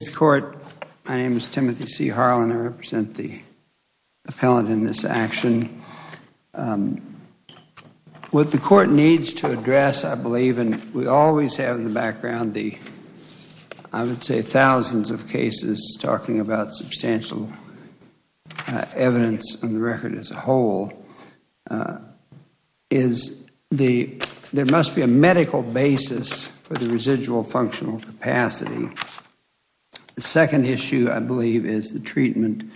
This court, my name is Timothy C. Harlan. I represent the appellant in this action. What the court needs to address, I believe, and we always have in the background the, I would say thousands of cases talking about substantial evidence on the record as a whole, is there must be a medical basis for the residual functional capacity. The second issue, I believe, is the treatment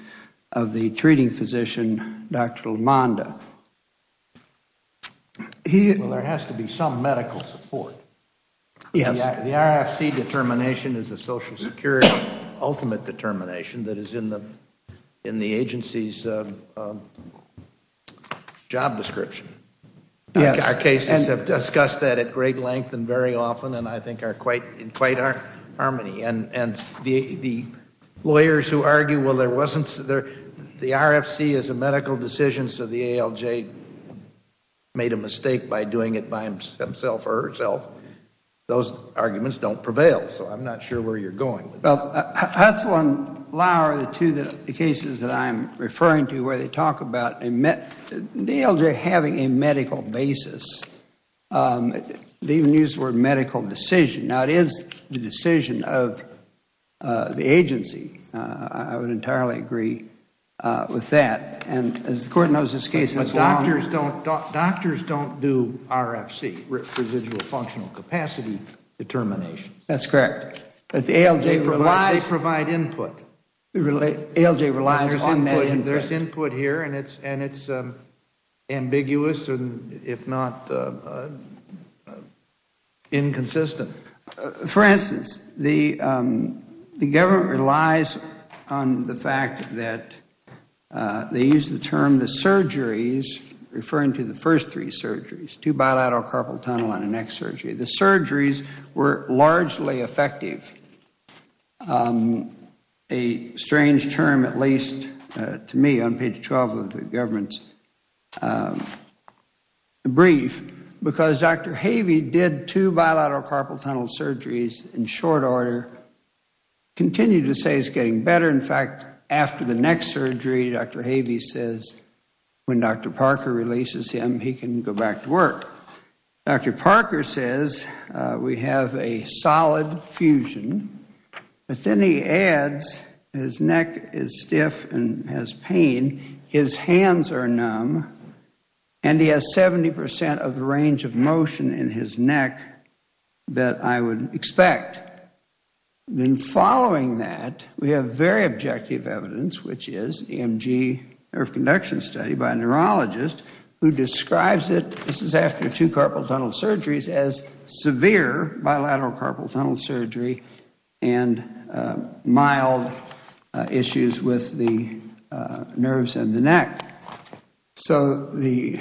of the treating physician, Dr. LaMonda. Well, there has to be some medical support. Yes. The RFC determination is the Social Security ultimate determination that is in the agency's job description. Yes. Our cases have discussed that at great length and very often and I think are in quite harmony. And the lawyers who argue, well, the RFC is a medical decision, so the ALJ made a mistake by doing it by himself or herself, those arguments don't prevail. So I'm not sure where you're going with that. Well, Hutzel and Lauer are the two cases that I'm referring to where they talk about the ALJ having a medical basis. They even use the word medical decision. Now, it is the decision of the agency. I would entirely agree with that. And as the court knows this case as well. But doctors don't do RFC, residual functional capacity determination. That's correct. They provide input. ALJ relies on that input. There's input here and it's ambiguous if not inconsistent. For instance, the government relies on the fact that they use the term the surgeries referring to the first three surgeries, two bilateral carpal tunnel and an X surgery. The surgeries were largely effective. A strange term at least to me on page 12 of the government's brief, because Dr. Havey did two bilateral carpal tunnel surgeries in short order, continued to say it's getting better. In fact, after the next surgery, Dr. Havey says when Dr. Parker says we have a solid fusion, but then he adds his neck is stiff and has pain, his hands are numb, and he has 70% of the range of motion in his neck that I would expect. Then following that, we have very objective evidence, which is EMG nerve conduction study by a neurologist who describes it, this is after two carpal tunnel surgeries, as severe bilateral carpal tunnel surgery and mild issues with the nerves in the neck. So the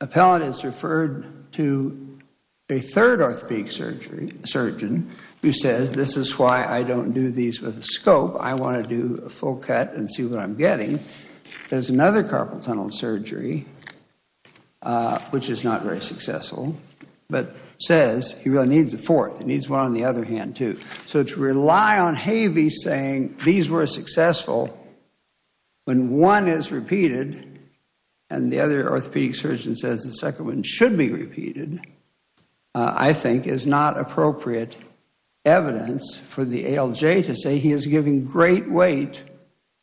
appellate is referred to a third orthopedic surgeon who says this is why I don't do these with a scope. I want to do a full cut and see what I'm getting. There's another carpal tunnel surgery, which is not very successful, but says he really needs a fourth. He needs one on the other hand too. So to rely on Havey saying these were successful when one is repeated and the other orthopedic surgeon says the second one should be repeated, I think is not appropriate evidence for the ALJ to say he is giving great weight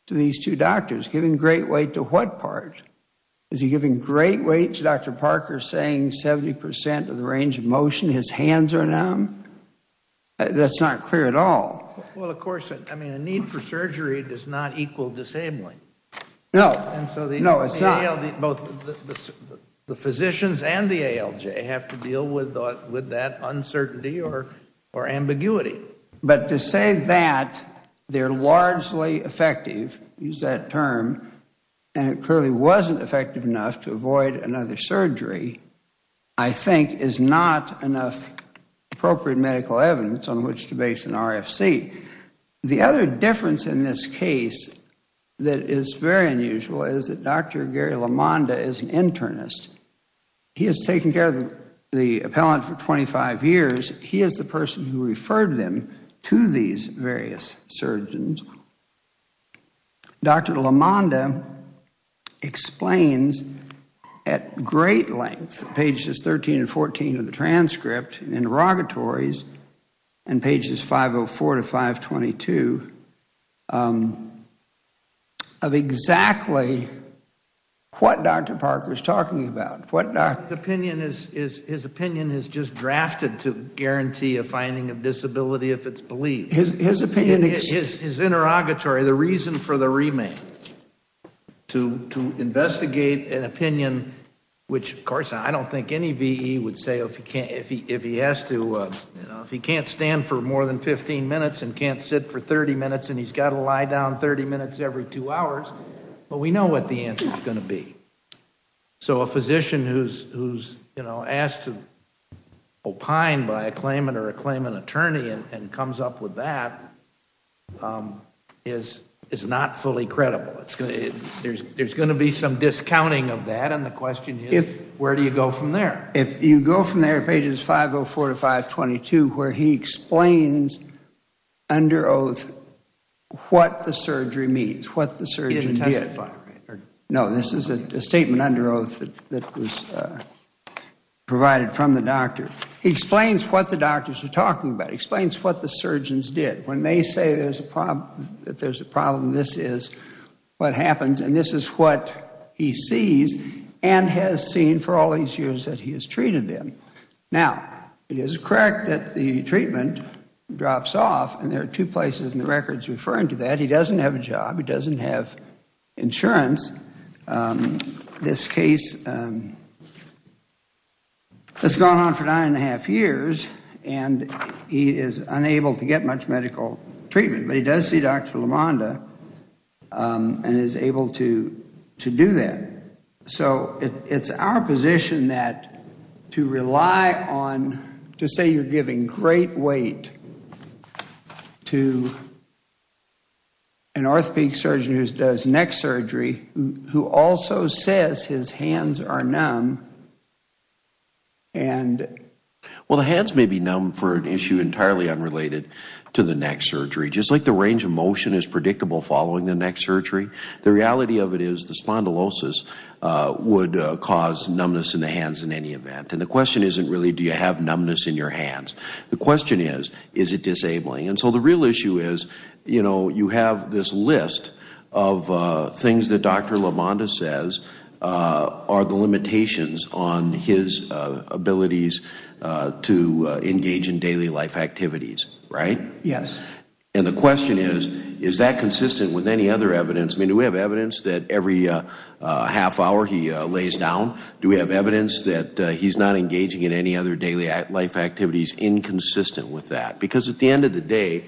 to these two doctors. Giving great weight to what part? Is he giving great weight to Dr. Parker saying 70% of the range of motion, his hands are numb? That's not clear at all. Well, of course, I mean, a need for surgery does not equal disabling. No. No, it's not. Both the physicians and the ALJ have to deal with that uncertainty or ambiguity. But to say that they're largely effective, use that term, and it clearly wasn't effective enough to avoid another surgery, I think is not enough appropriate medical evidence on which to base an RFC. The other difference in this case that is very unusual is that Dr. Gary LaMonda is an internist. He has taken care of the appellant for 25 years. He is the person who referred them to these various surgeons. Dr. LaMonda explains at great length, pages 13 and 14 of the transcript and interrogatories, and pages 504 to 522, of exactly what Dr. Parker is talking about. His opinion is just drafted to guarantee a finding of disability if it's believed. His interrogatory, the reason for the remand, to investigate an opinion which, of course, I don't think any VE would say if he has to, if he can't stand for more than 15 minutes and can't sit for 30 minutes and he's got to lie down 30 minutes every two hours, well, we know what the answer is going to be. So a physician who's asked to opine by a claimant or a claimant attorney and comes up with that is not fully credible. There's going to be some discounting of that, and the question is, where do you go from there? If you go from there, pages 504 to 522, where he explains under oath what the surgery means, what the surgeon did. No, this is a statement under oath that was provided from the doctor. He explains what the doctors are talking about. He explains what the surgeons did. When they say that there's a problem, this is what happens, and this is what he sees and has seen for all these years that he has treated them. Now, it is correct that the treatment drops off, and there are two places in the records referring to that. He doesn't have a job. He doesn't have insurance. This case has gone on for nine and a half years, and he is unable to get much medical treatment, but he does see Dr. LaMonda and is able to do that. It's our position to say you're giving great weight to an orthopedic surgeon who does neck surgery who also says his hands are numb. The hands may be numb for an issue entirely unrelated to the neck surgery. Just like the range of motion is predictable following the neck surgery, the reality of it is the spondylosis would cause numbness in the hands in any event. And the question isn't really do you have numbness in your hands. The question is, is it disabling? And so the real issue is you have this list of things that Dr. LaMonda says are the limitations on his abilities to engage in daily life activities, right? Yes. And the question is, is that consistent with any other evidence? I mean, do we have evidence that every half hour he lays down? Do we have evidence that he's not engaging in any other daily life activities inconsistent with that? Because at the end of the day,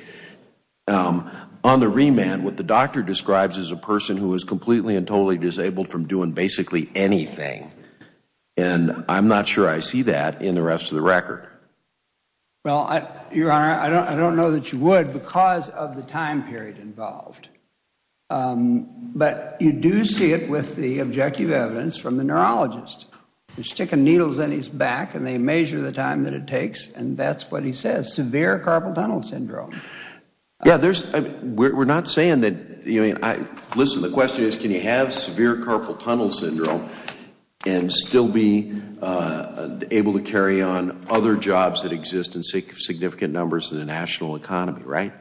on the remand, what the doctor describes is a person who is completely and totally disabled from doing basically anything, and I'm not sure I see that in the rest of the record. Well, Your Honor, I don't know that you would because of the time period involved. But you do see it with the objective evidence from the neurologist. They stick needles in his back and they measure the time that it takes, and that's what he says, severe carpal tunnel syndrome. Yeah, we're not saying that, I mean, listen, the question is, can he have severe carpal tunnel syndrome and still be able to carry on other jobs that exist in significant numbers in the national economy, right?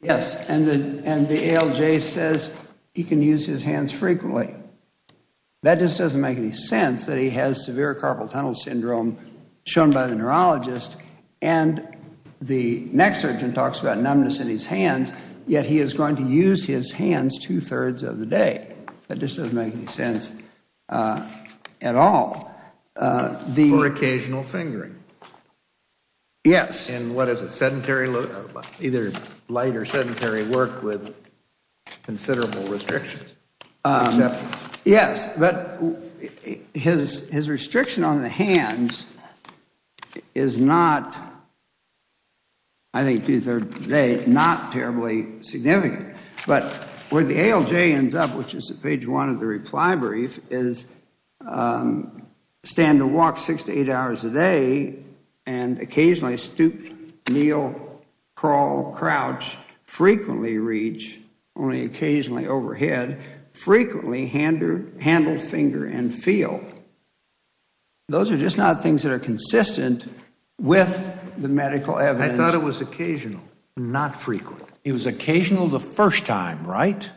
Yes, and the ALJ says he can use his hands frequently. That just doesn't make any sense that he has severe carpal tunnel syndrome, shown by the neurologist, and the next surgeon talks about numbness in his hands, yet he is going to use his hands two-thirds of the day. That just doesn't make any sense at all. For occasional fingering? Yes. And what is it, sedentary, either light or sedentary work with considerable restrictions? Yes, but his restriction on the hands is not, I think two-thirds of the day, not terribly significant. But where the ALJ ends up, which is at page one of the reply brief, is stand to walk six to eight hours a day and occasionally stoop, kneel, crawl, crouch, frequently reach, only occasionally overhead, frequently handle finger and feel. Those are just not things that are consistent with the medical evidence. I thought it was occasional, not frequent. It was occasional the first time, right?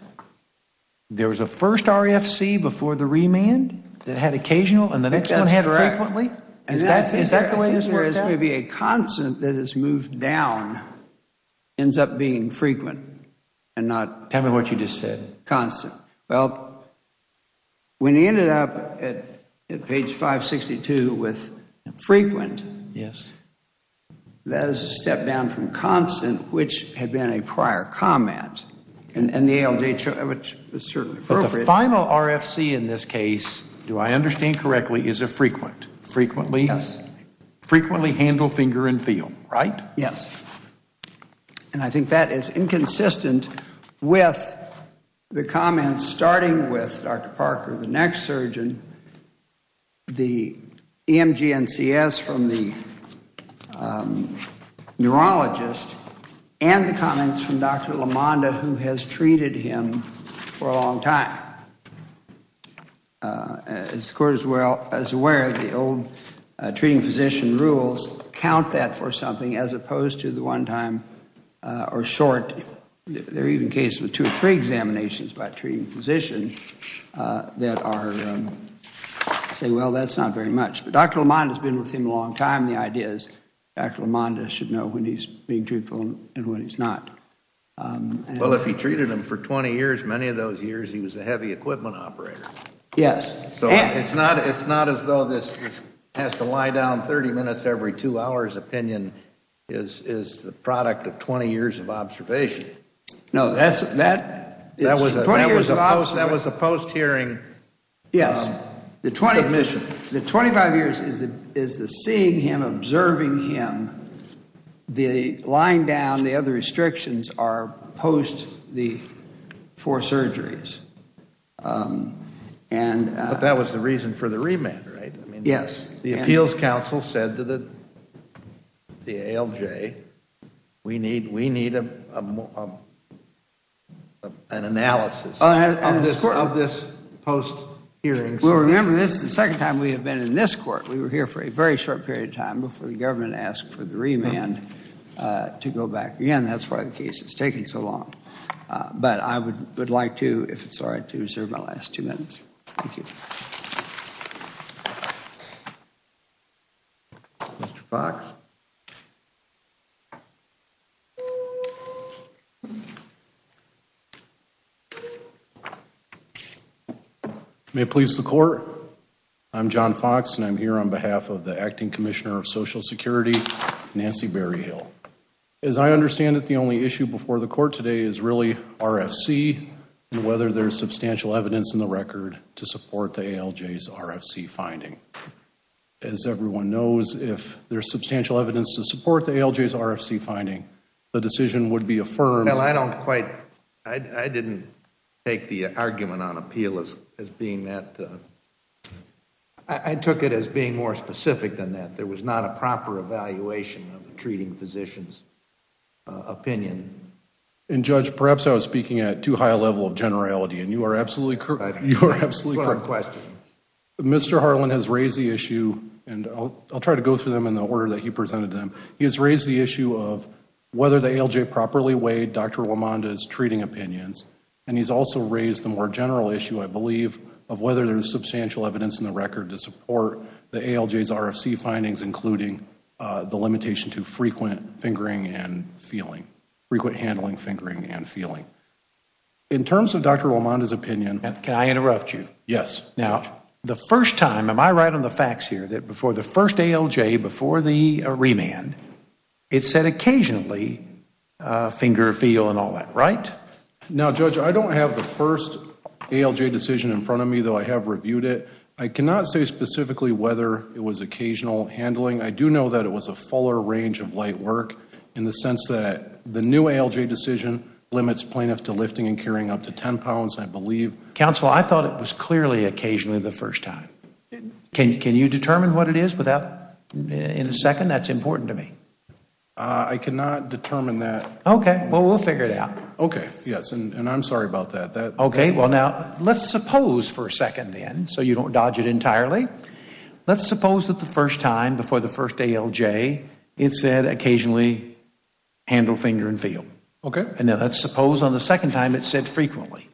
There was a first RFC before the remand that had occasional and the next one had frequently? Is that the way things work out? Whereas maybe a constant that is moved down ends up being frequent and not constant. Tell me what you just said. Well, when he ended up at page 562 with frequent, that is a step down from constant, which had been a prior comment, and the ALJ, which is certainly appropriate. But the final RFC in this case, do I understand correctly, is a frequent. Frequently? Yes. Frequently handle finger and feel, right? Yes. And I think that is inconsistent with the comments starting with Dr. Parker, the next surgeon, the EMG NCS from the neurologist, and the comments from Dr. LaMonda, who has treated him for a long time. As the Court is aware, the old treating physician rules count that for something, as opposed to the one-time or short. There are even cases with two or three examinations by a treating physician that say, well, that is not very much. But Dr. LaMonda has been with him a long time. The idea is Dr. LaMonda should know when he is being truthful and when he is not. Well, if he treated him for 20 years, many of those years he was a heavy equipment operator. Yes. So it is not as though this has to lie down 30 minutes every two hours opinion is the product of 20 years of observation. No, that is 20 years of observation. That was a post-hearing submission. The 25 years is the seeing him, observing him. The line down, the other restrictions are post the four surgeries. But that was the reason for the remand, right? Yes. The Appeals Council said to the ALJ, we need an analysis of this post-hearing. Well, remember this is the second time we have been in this court. We were here for a very short period of time before the government asked for the remand to go back. Again, that is why the case is taking so long. But I would like to, if it is all right, to reserve my last two minutes. Thank you. Mr. Fox? May it please the court. I am John Fox and I am here on behalf of the Acting Commissioner of Social Security, Nancy Berryhill. As I understand it, the only issue before the court today is really RFC and whether there is substantial evidence in the record to support the ALJ's RFC finding. As everyone knows, if there is substantial evidence to support the ALJ's RFC finding, the decision would be affirmed. I did not take the argument on appeal as being that. I took it as being more specific than that. There was not a proper evaluation of the treating physician's opinion. Judge, perhaps I was speaking at too high a level of generality and you are absolutely correct. Mr. Harlan has raised the issue, and I will try to go through them in the order that he presented them. He has raised the issue of whether the ALJ properly weighed Dr. LaMonda's treating opinions. And he has also raised the more general issue, I believe, of whether there is substantial evidence in the record to support the ALJ's RFC findings, including the limitation to frequent fingering and feeling, frequent handling fingering and feeling. In terms of Dr. LaMonda's opinion... Can I interrupt you? Yes. Now, the first time, am I right on the facts here, that before the first ALJ, before the remand, it said occasionally finger, feel, and all that, right? Now, Judge, I don't have the first ALJ decision in front of me, though I have reviewed it. I cannot say specifically whether it was occasional handling. I do know that it was a fuller range of light work in the sense that the new ALJ decision limits plaintiffs to lifting and carrying up to 10 pounds, I believe. Counsel, I thought it was clearly occasionally the first time. Can you determine what it is in a second? That's important to me. I cannot determine that. Okay. Well, we'll figure it out. Okay. Yes, and I'm sorry about that. Okay. Well, now, let's suppose for a second, then, so you don't dodge it entirely. Let's suppose that the first time, before the first ALJ, it said occasionally handle, finger, and feel. Okay. Now, let's suppose on the second time it said frequently.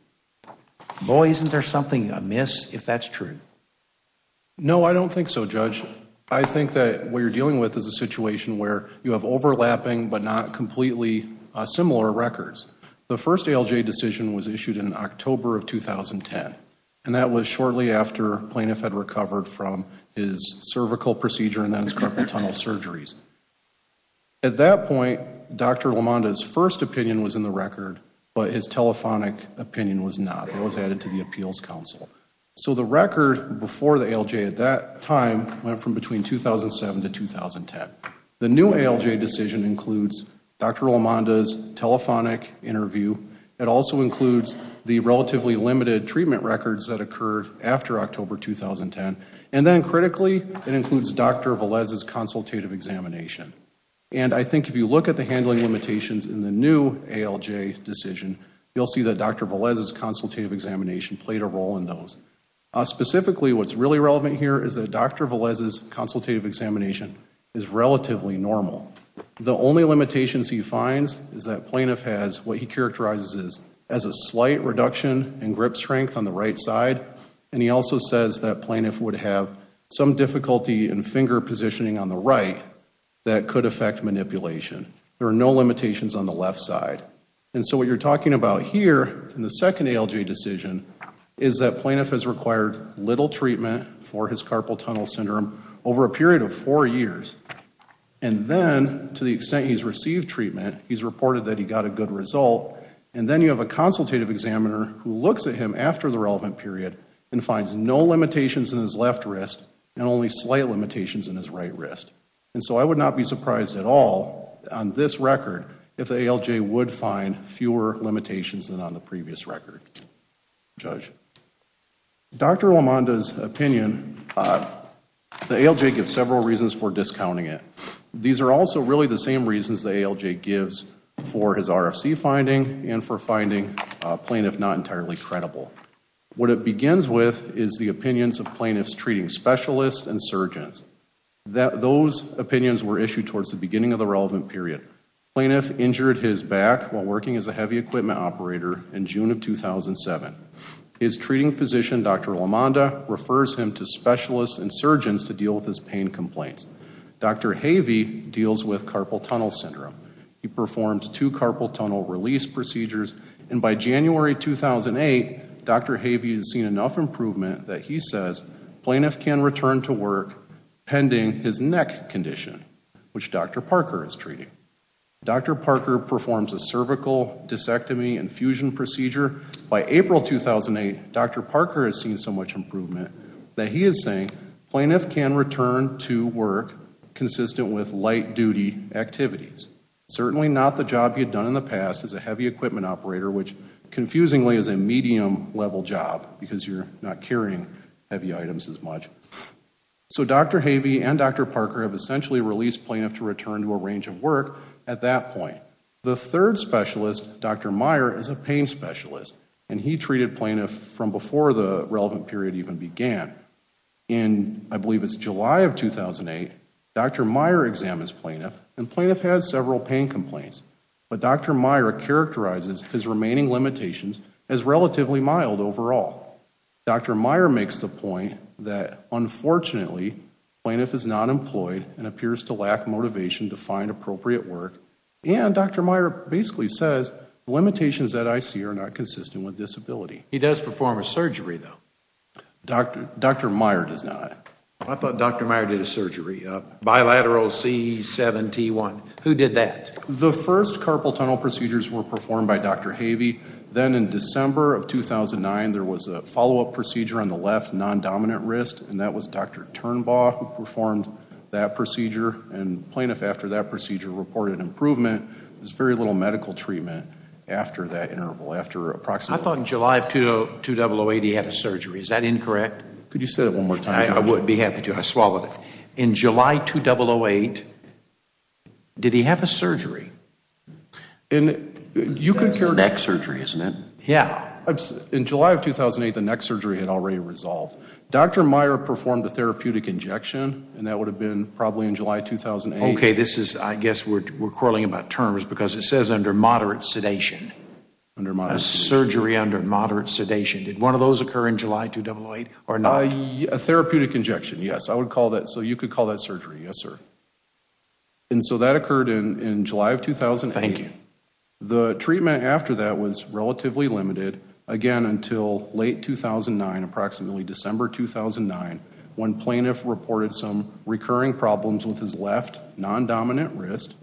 Boy, isn't there something amiss if that's true. No, I don't think so, Judge. I think that what you're dealing with is a situation where you have overlapping but not completely similar records. The first ALJ decision was issued in October of 2010, and that was shortly after plaintiff had recovered from his cervical procedure and then his carpal tunnel surgeries. At that point, Dr. LaMonda's first opinion was in the record, but his telephonic opinion was not. It was added to the appeals council. So the record before the ALJ at that time went from between 2007 to 2010. The new ALJ decision includes Dr. LaMonda's telephonic interview. It also includes the relatively limited treatment records that occurred after October 2010. And then critically, it includes Dr. Velez's consultative examination. And I think if you look at the handling limitations in the new ALJ decision, you'll see that Dr. Velez's consultative examination played a role in those. Specifically, what's really relevant here is that Dr. Velez's consultative examination is relatively normal. The only limitations he finds is that plaintiff has what he characterizes as a slight reduction in grip strength on the right side, and he also says that plaintiff would have some difficulty in finger positioning on the right that could affect manipulation. There are no limitations on the left side. And so what you're talking about here in the second ALJ decision is that plaintiff has required little treatment for his carpal tunnel syndrome over a period of four years. And then to the extent he's received treatment, he's reported that he got a good result. And then you have a consultative examiner who looks at him after the relevant period and finds no limitations in his left wrist and only slight limitations in his right wrist. And so I would not be surprised at all on this record if the ALJ would find fewer limitations than on the previous record, Judge. Dr. LaMonda's opinion, the ALJ gives several reasons for discounting it. These are also really the same reasons the ALJ gives for his RFC finding and for finding plaintiff not entirely credible. What it begins with is the opinions of plaintiffs treating specialists and surgeons. Those opinions were issued towards the beginning of the relevant period. Plaintiff injured his back while working as a heavy equipment operator in June of 2007. His treating physician, Dr. LaMonda, refers him to specialists and surgeons to deal with his pain complaints. Dr. Havey deals with carpal tunnel syndrome. He performs two carpal tunnel release procedures. And by January 2008, Dr. Havey has seen enough improvement that he says plaintiff can return to work pending his neck condition, which Dr. Parker is treating. Dr. Parker performs a cervical discectomy infusion procedure. By April 2008, Dr. Parker has seen so much improvement that he is saying plaintiff can return to work consistent with light-duty activities. Certainly not the job you've done in the past as a heavy equipment operator, which confusingly is a medium-level job because you're not carrying heavy items as much. So Dr. Havey and Dr. Parker have essentially released plaintiff to return to a range of work at that point. The third specialist, Dr. Meyer, is a pain specialist. And he treated plaintiff from before the relevant period even began. In, I believe it's July of 2008, Dr. Meyer examines plaintiff. And plaintiff has several pain complaints. But Dr. Meyer characterizes his remaining limitations as relatively mild overall. Dr. Meyer makes the point that, unfortunately, plaintiff is not employed and appears to lack motivation to find appropriate work. And Dr. Meyer basically says the limitations that I see are not consistent with disability. He does perform a surgery, though. Dr. Meyer does not. I thought Dr. Meyer did a surgery, bilateral C7T1. Who did that? The first carpal tunnel procedures were performed by Dr. Havey. Then in December of 2009, there was a follow-up procedure on the left, non-dominant wrist. And that was Dr. Turnbaugh who performed that procedure. And plaintiff, after that procedure, reported improvement. There was very little medical treatment after that interval, after approximately. I thought in July of 2008 he had a surgery. Is that incorrect? Could you say that one more time? I would be happy to. I swallowed it. In July 2008, did he have a surgery? That's neck surgery, isn't it? Yeah. In July of 2008, the neck surgery had already resolved. Dr. Meyer performed a therapeutic injection, and that would have been probably in July 2008. Okay, I guess we're quarreling about terms because it says under moderate sedation. A surgery under moderate sedation. Did one of those occur in July 2008 or not? A therapeutic injection, yes. So you could call that surgery, yes, sir. And so that occurred in July of 2008. Thank you. The treatment after that was relatively limited. Again, until late 2009, approximately December 2009, when plaintiff reported some recurring problems with his left non-dominant wrist.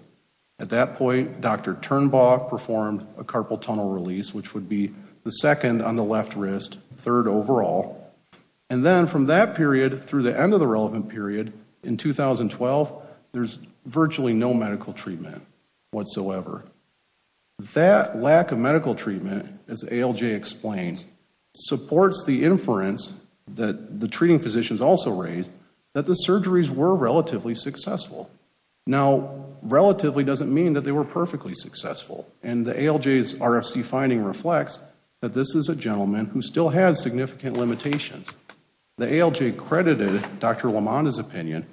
At that point, Dr. Turnbaugh performed a carpal tunnel release, which would be the second on the left wrist, third overall. And then from that period through the end of the relevant period in 2012, there's virtually no medical treatment whatsoever. That lack of medical treatment, as ALJ explains, supports the inference that the treating physicians also raised that the surgeries were relatively successful. Now, relatively doesn't mean that they were perfectly successful. And the ALJ's RFC finding reflects that this is a gentleman who still has significant limitations. The ALJ credited Dr. LaMonda's opinion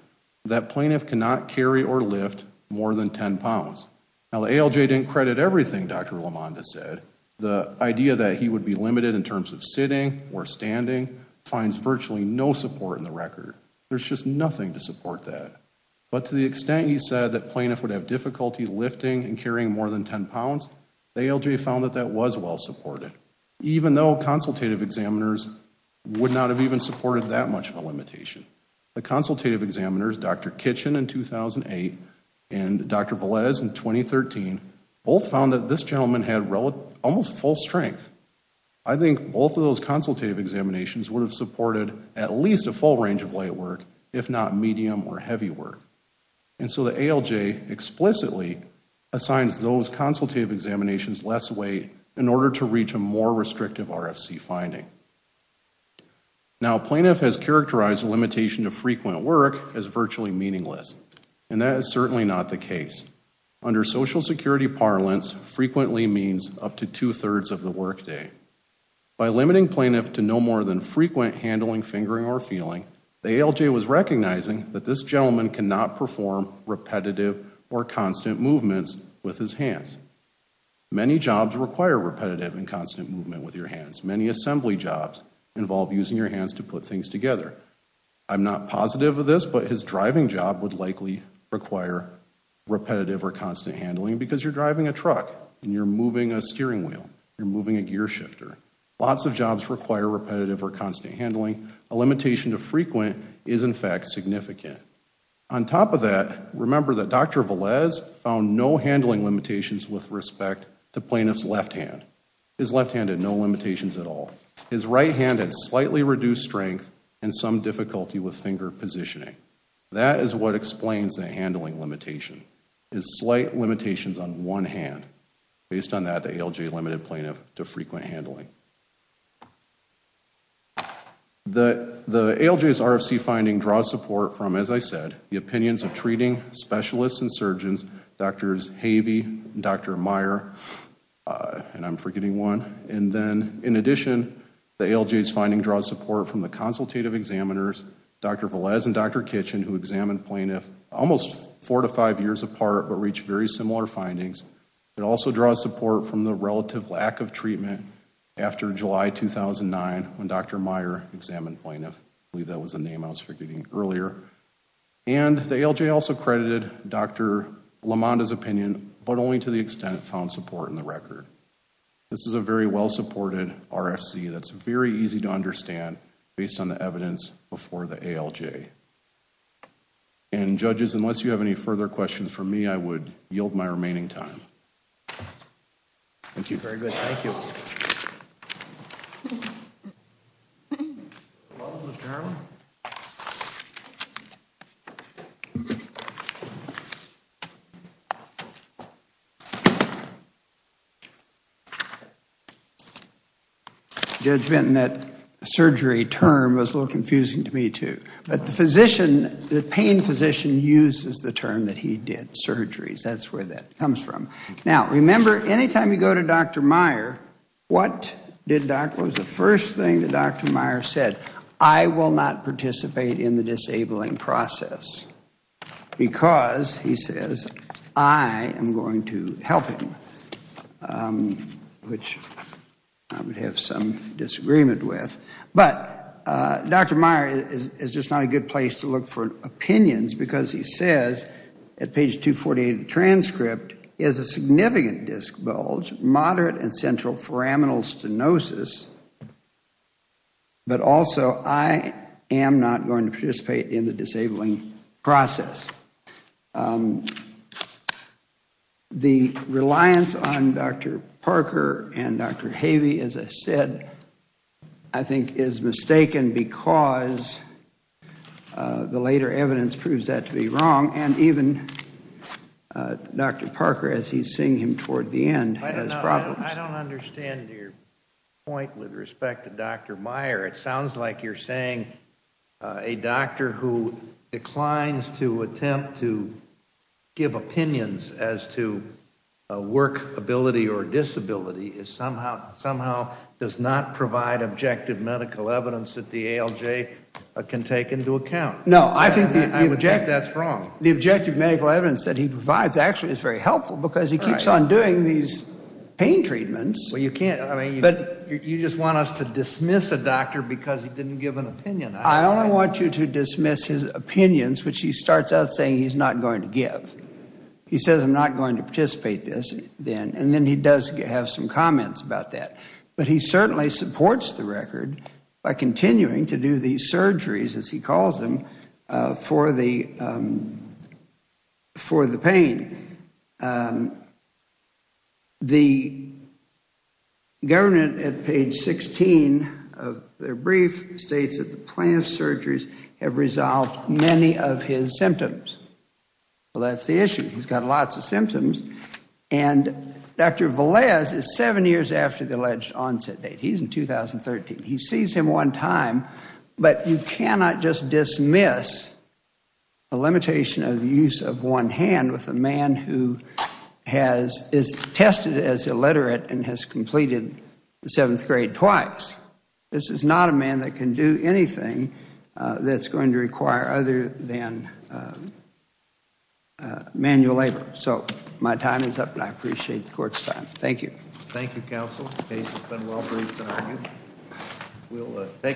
that plaintiff cannot carry or lift more than 10 pounds. Now, the ALJ didn't credit everything Dr. LaMonda said. The idea that he would be limited in terms of sitting or standing finds virtually no support in the record. There's just nothing to support that. But to the extent he said that plaintiff would have difficulty lifting and carrying more than 10 pounds, the ALJ found that that was well supported. Even though consultative examiners would not have even supported that much of a limitation. The consultative examiners, Dr. Kitchen in 2008 and Dr. Velez in 2013, both found that this gentleman had almost full strength. I think both of those consultative examinations would have supported at least a full range of light work, if not medium or heavy work. And so the ALJ explicitly assigns those consultative examinations less weight in order to reach a more restrictive RFC finding. Now, plaintiff has characterized the limitation of frequent work as virtually meaningless. And that is certainly not the case. Under Social Security parlance, frequently means up to two-thirds of the work day. By limiting plaintiff to no more than frequent handling, fingering, or feeling, the ALJ was recognizing that this gentleman cannot perform repetitive or constant movements with his hands. Many jobs require repetitive and constant movement with your hands. Many assembly jobs involve using your hands to put things together. I'm not positive of this, but his driving job would likely require repetitive or constant handling because you're driving a truck and you're moving a steering wheel. You're moving a gear shifter. Lots of jobs require repetitive or constant handling. A limitation to frequent is in fact significant. On top of that, remember that Dr. Velez found no handling limitations with respect to plaintiff's left hand. His left hand had no limitations at all. His right hand had slightly reduced strength and some difficulty with finger positioning. That is what explains the handling limitation, is slight limitations on one hand. Based on that, the ALJ limited plaintiff to frequent handling. The ALJ's RFC finding draws support from, as I said, the opinions of treating specialists and surgeons, Drs. Havey and Dr. Meyer, and I'm forgetting one. And then in addition, the ALJ's finding draws support from the consultative examiners, Dr. Velez and Dr. Kitchen, who examined plaintiff almost four to five years apart but reached very similar findings. It also draws support from the relative lack of treatment after July 2009 when Dr. Meyer examined plaintiff. I believe that was the name I was forgetting earlier. And the ALJ also credited Dr. LaMonda's opinion, but only to the extent it found support in the record. This is a very well-supported RFC that's very easy to understand based on the evidence before the ALJ. And judges, unless you have any further questions for me, I would yield my remaining time. Thank you very much. Judge Benton, that surgery term was a little confusing to me, too. But the pain physician uses the term that he did surgeries. That's where that comes from. Now, remember, any time you go to Dr. Meyer, what was the first thing that Dr. Meyer said? I will not participate in the disabling process. Because, he says, I am going to help him. Which I would have some disagreement with. But Dr. Meyer is just not a good place to look for opinions because he says, at page 248 of the transcript, is a significant disc bulge, moderate and central foraminal stenosis. But also, I am not going to participate in the disabling process. The reliance on Dr. Parker and Dr. Havey, as I said, I think is mistaken because the later evidence proves that to be wrong. And even Dr. Parker, as he is seeing him toward the end, has problems. I don't understand your point with respect to Dr. Meyer. It sounds like you are saying a doctor who declines to attempt to give opinions as to work ability or disability somehow does not provide objective medical evidence that the ALJ can take into account. No, I think that is wrong. The objective medical evidence that he provides actually is very helpful because he keeps on doing these pain treatments. You just want us to dismiss a doctor because he didn't give an opinion. I only want you to dismiss his opinions, which he starts out saying he is not going to give. He says I am not going to participate in this. And then he does have some comments about that. But he certainly supports the record by continuing to do these surgeries, as he calls them, for the pain. The government at page 16 of their brief states that the plan of surgeries have resolved many of his symptoms. Well, that is the issue. He has got lots of symptoms. And Dr. Velez is seven years after the alleged onset date. He is in 2013. He sees him one time, but you cannot just dismiss a limitation of the use of one hand with a man who is tested as illiterate and has completed the seventh grade twice. This is not a man that can do anything that is going to require other than manual labor. So my time is up, and I appreciate the court's time. Thank you. Thank you, counsel. The case has been well briefed, I argue.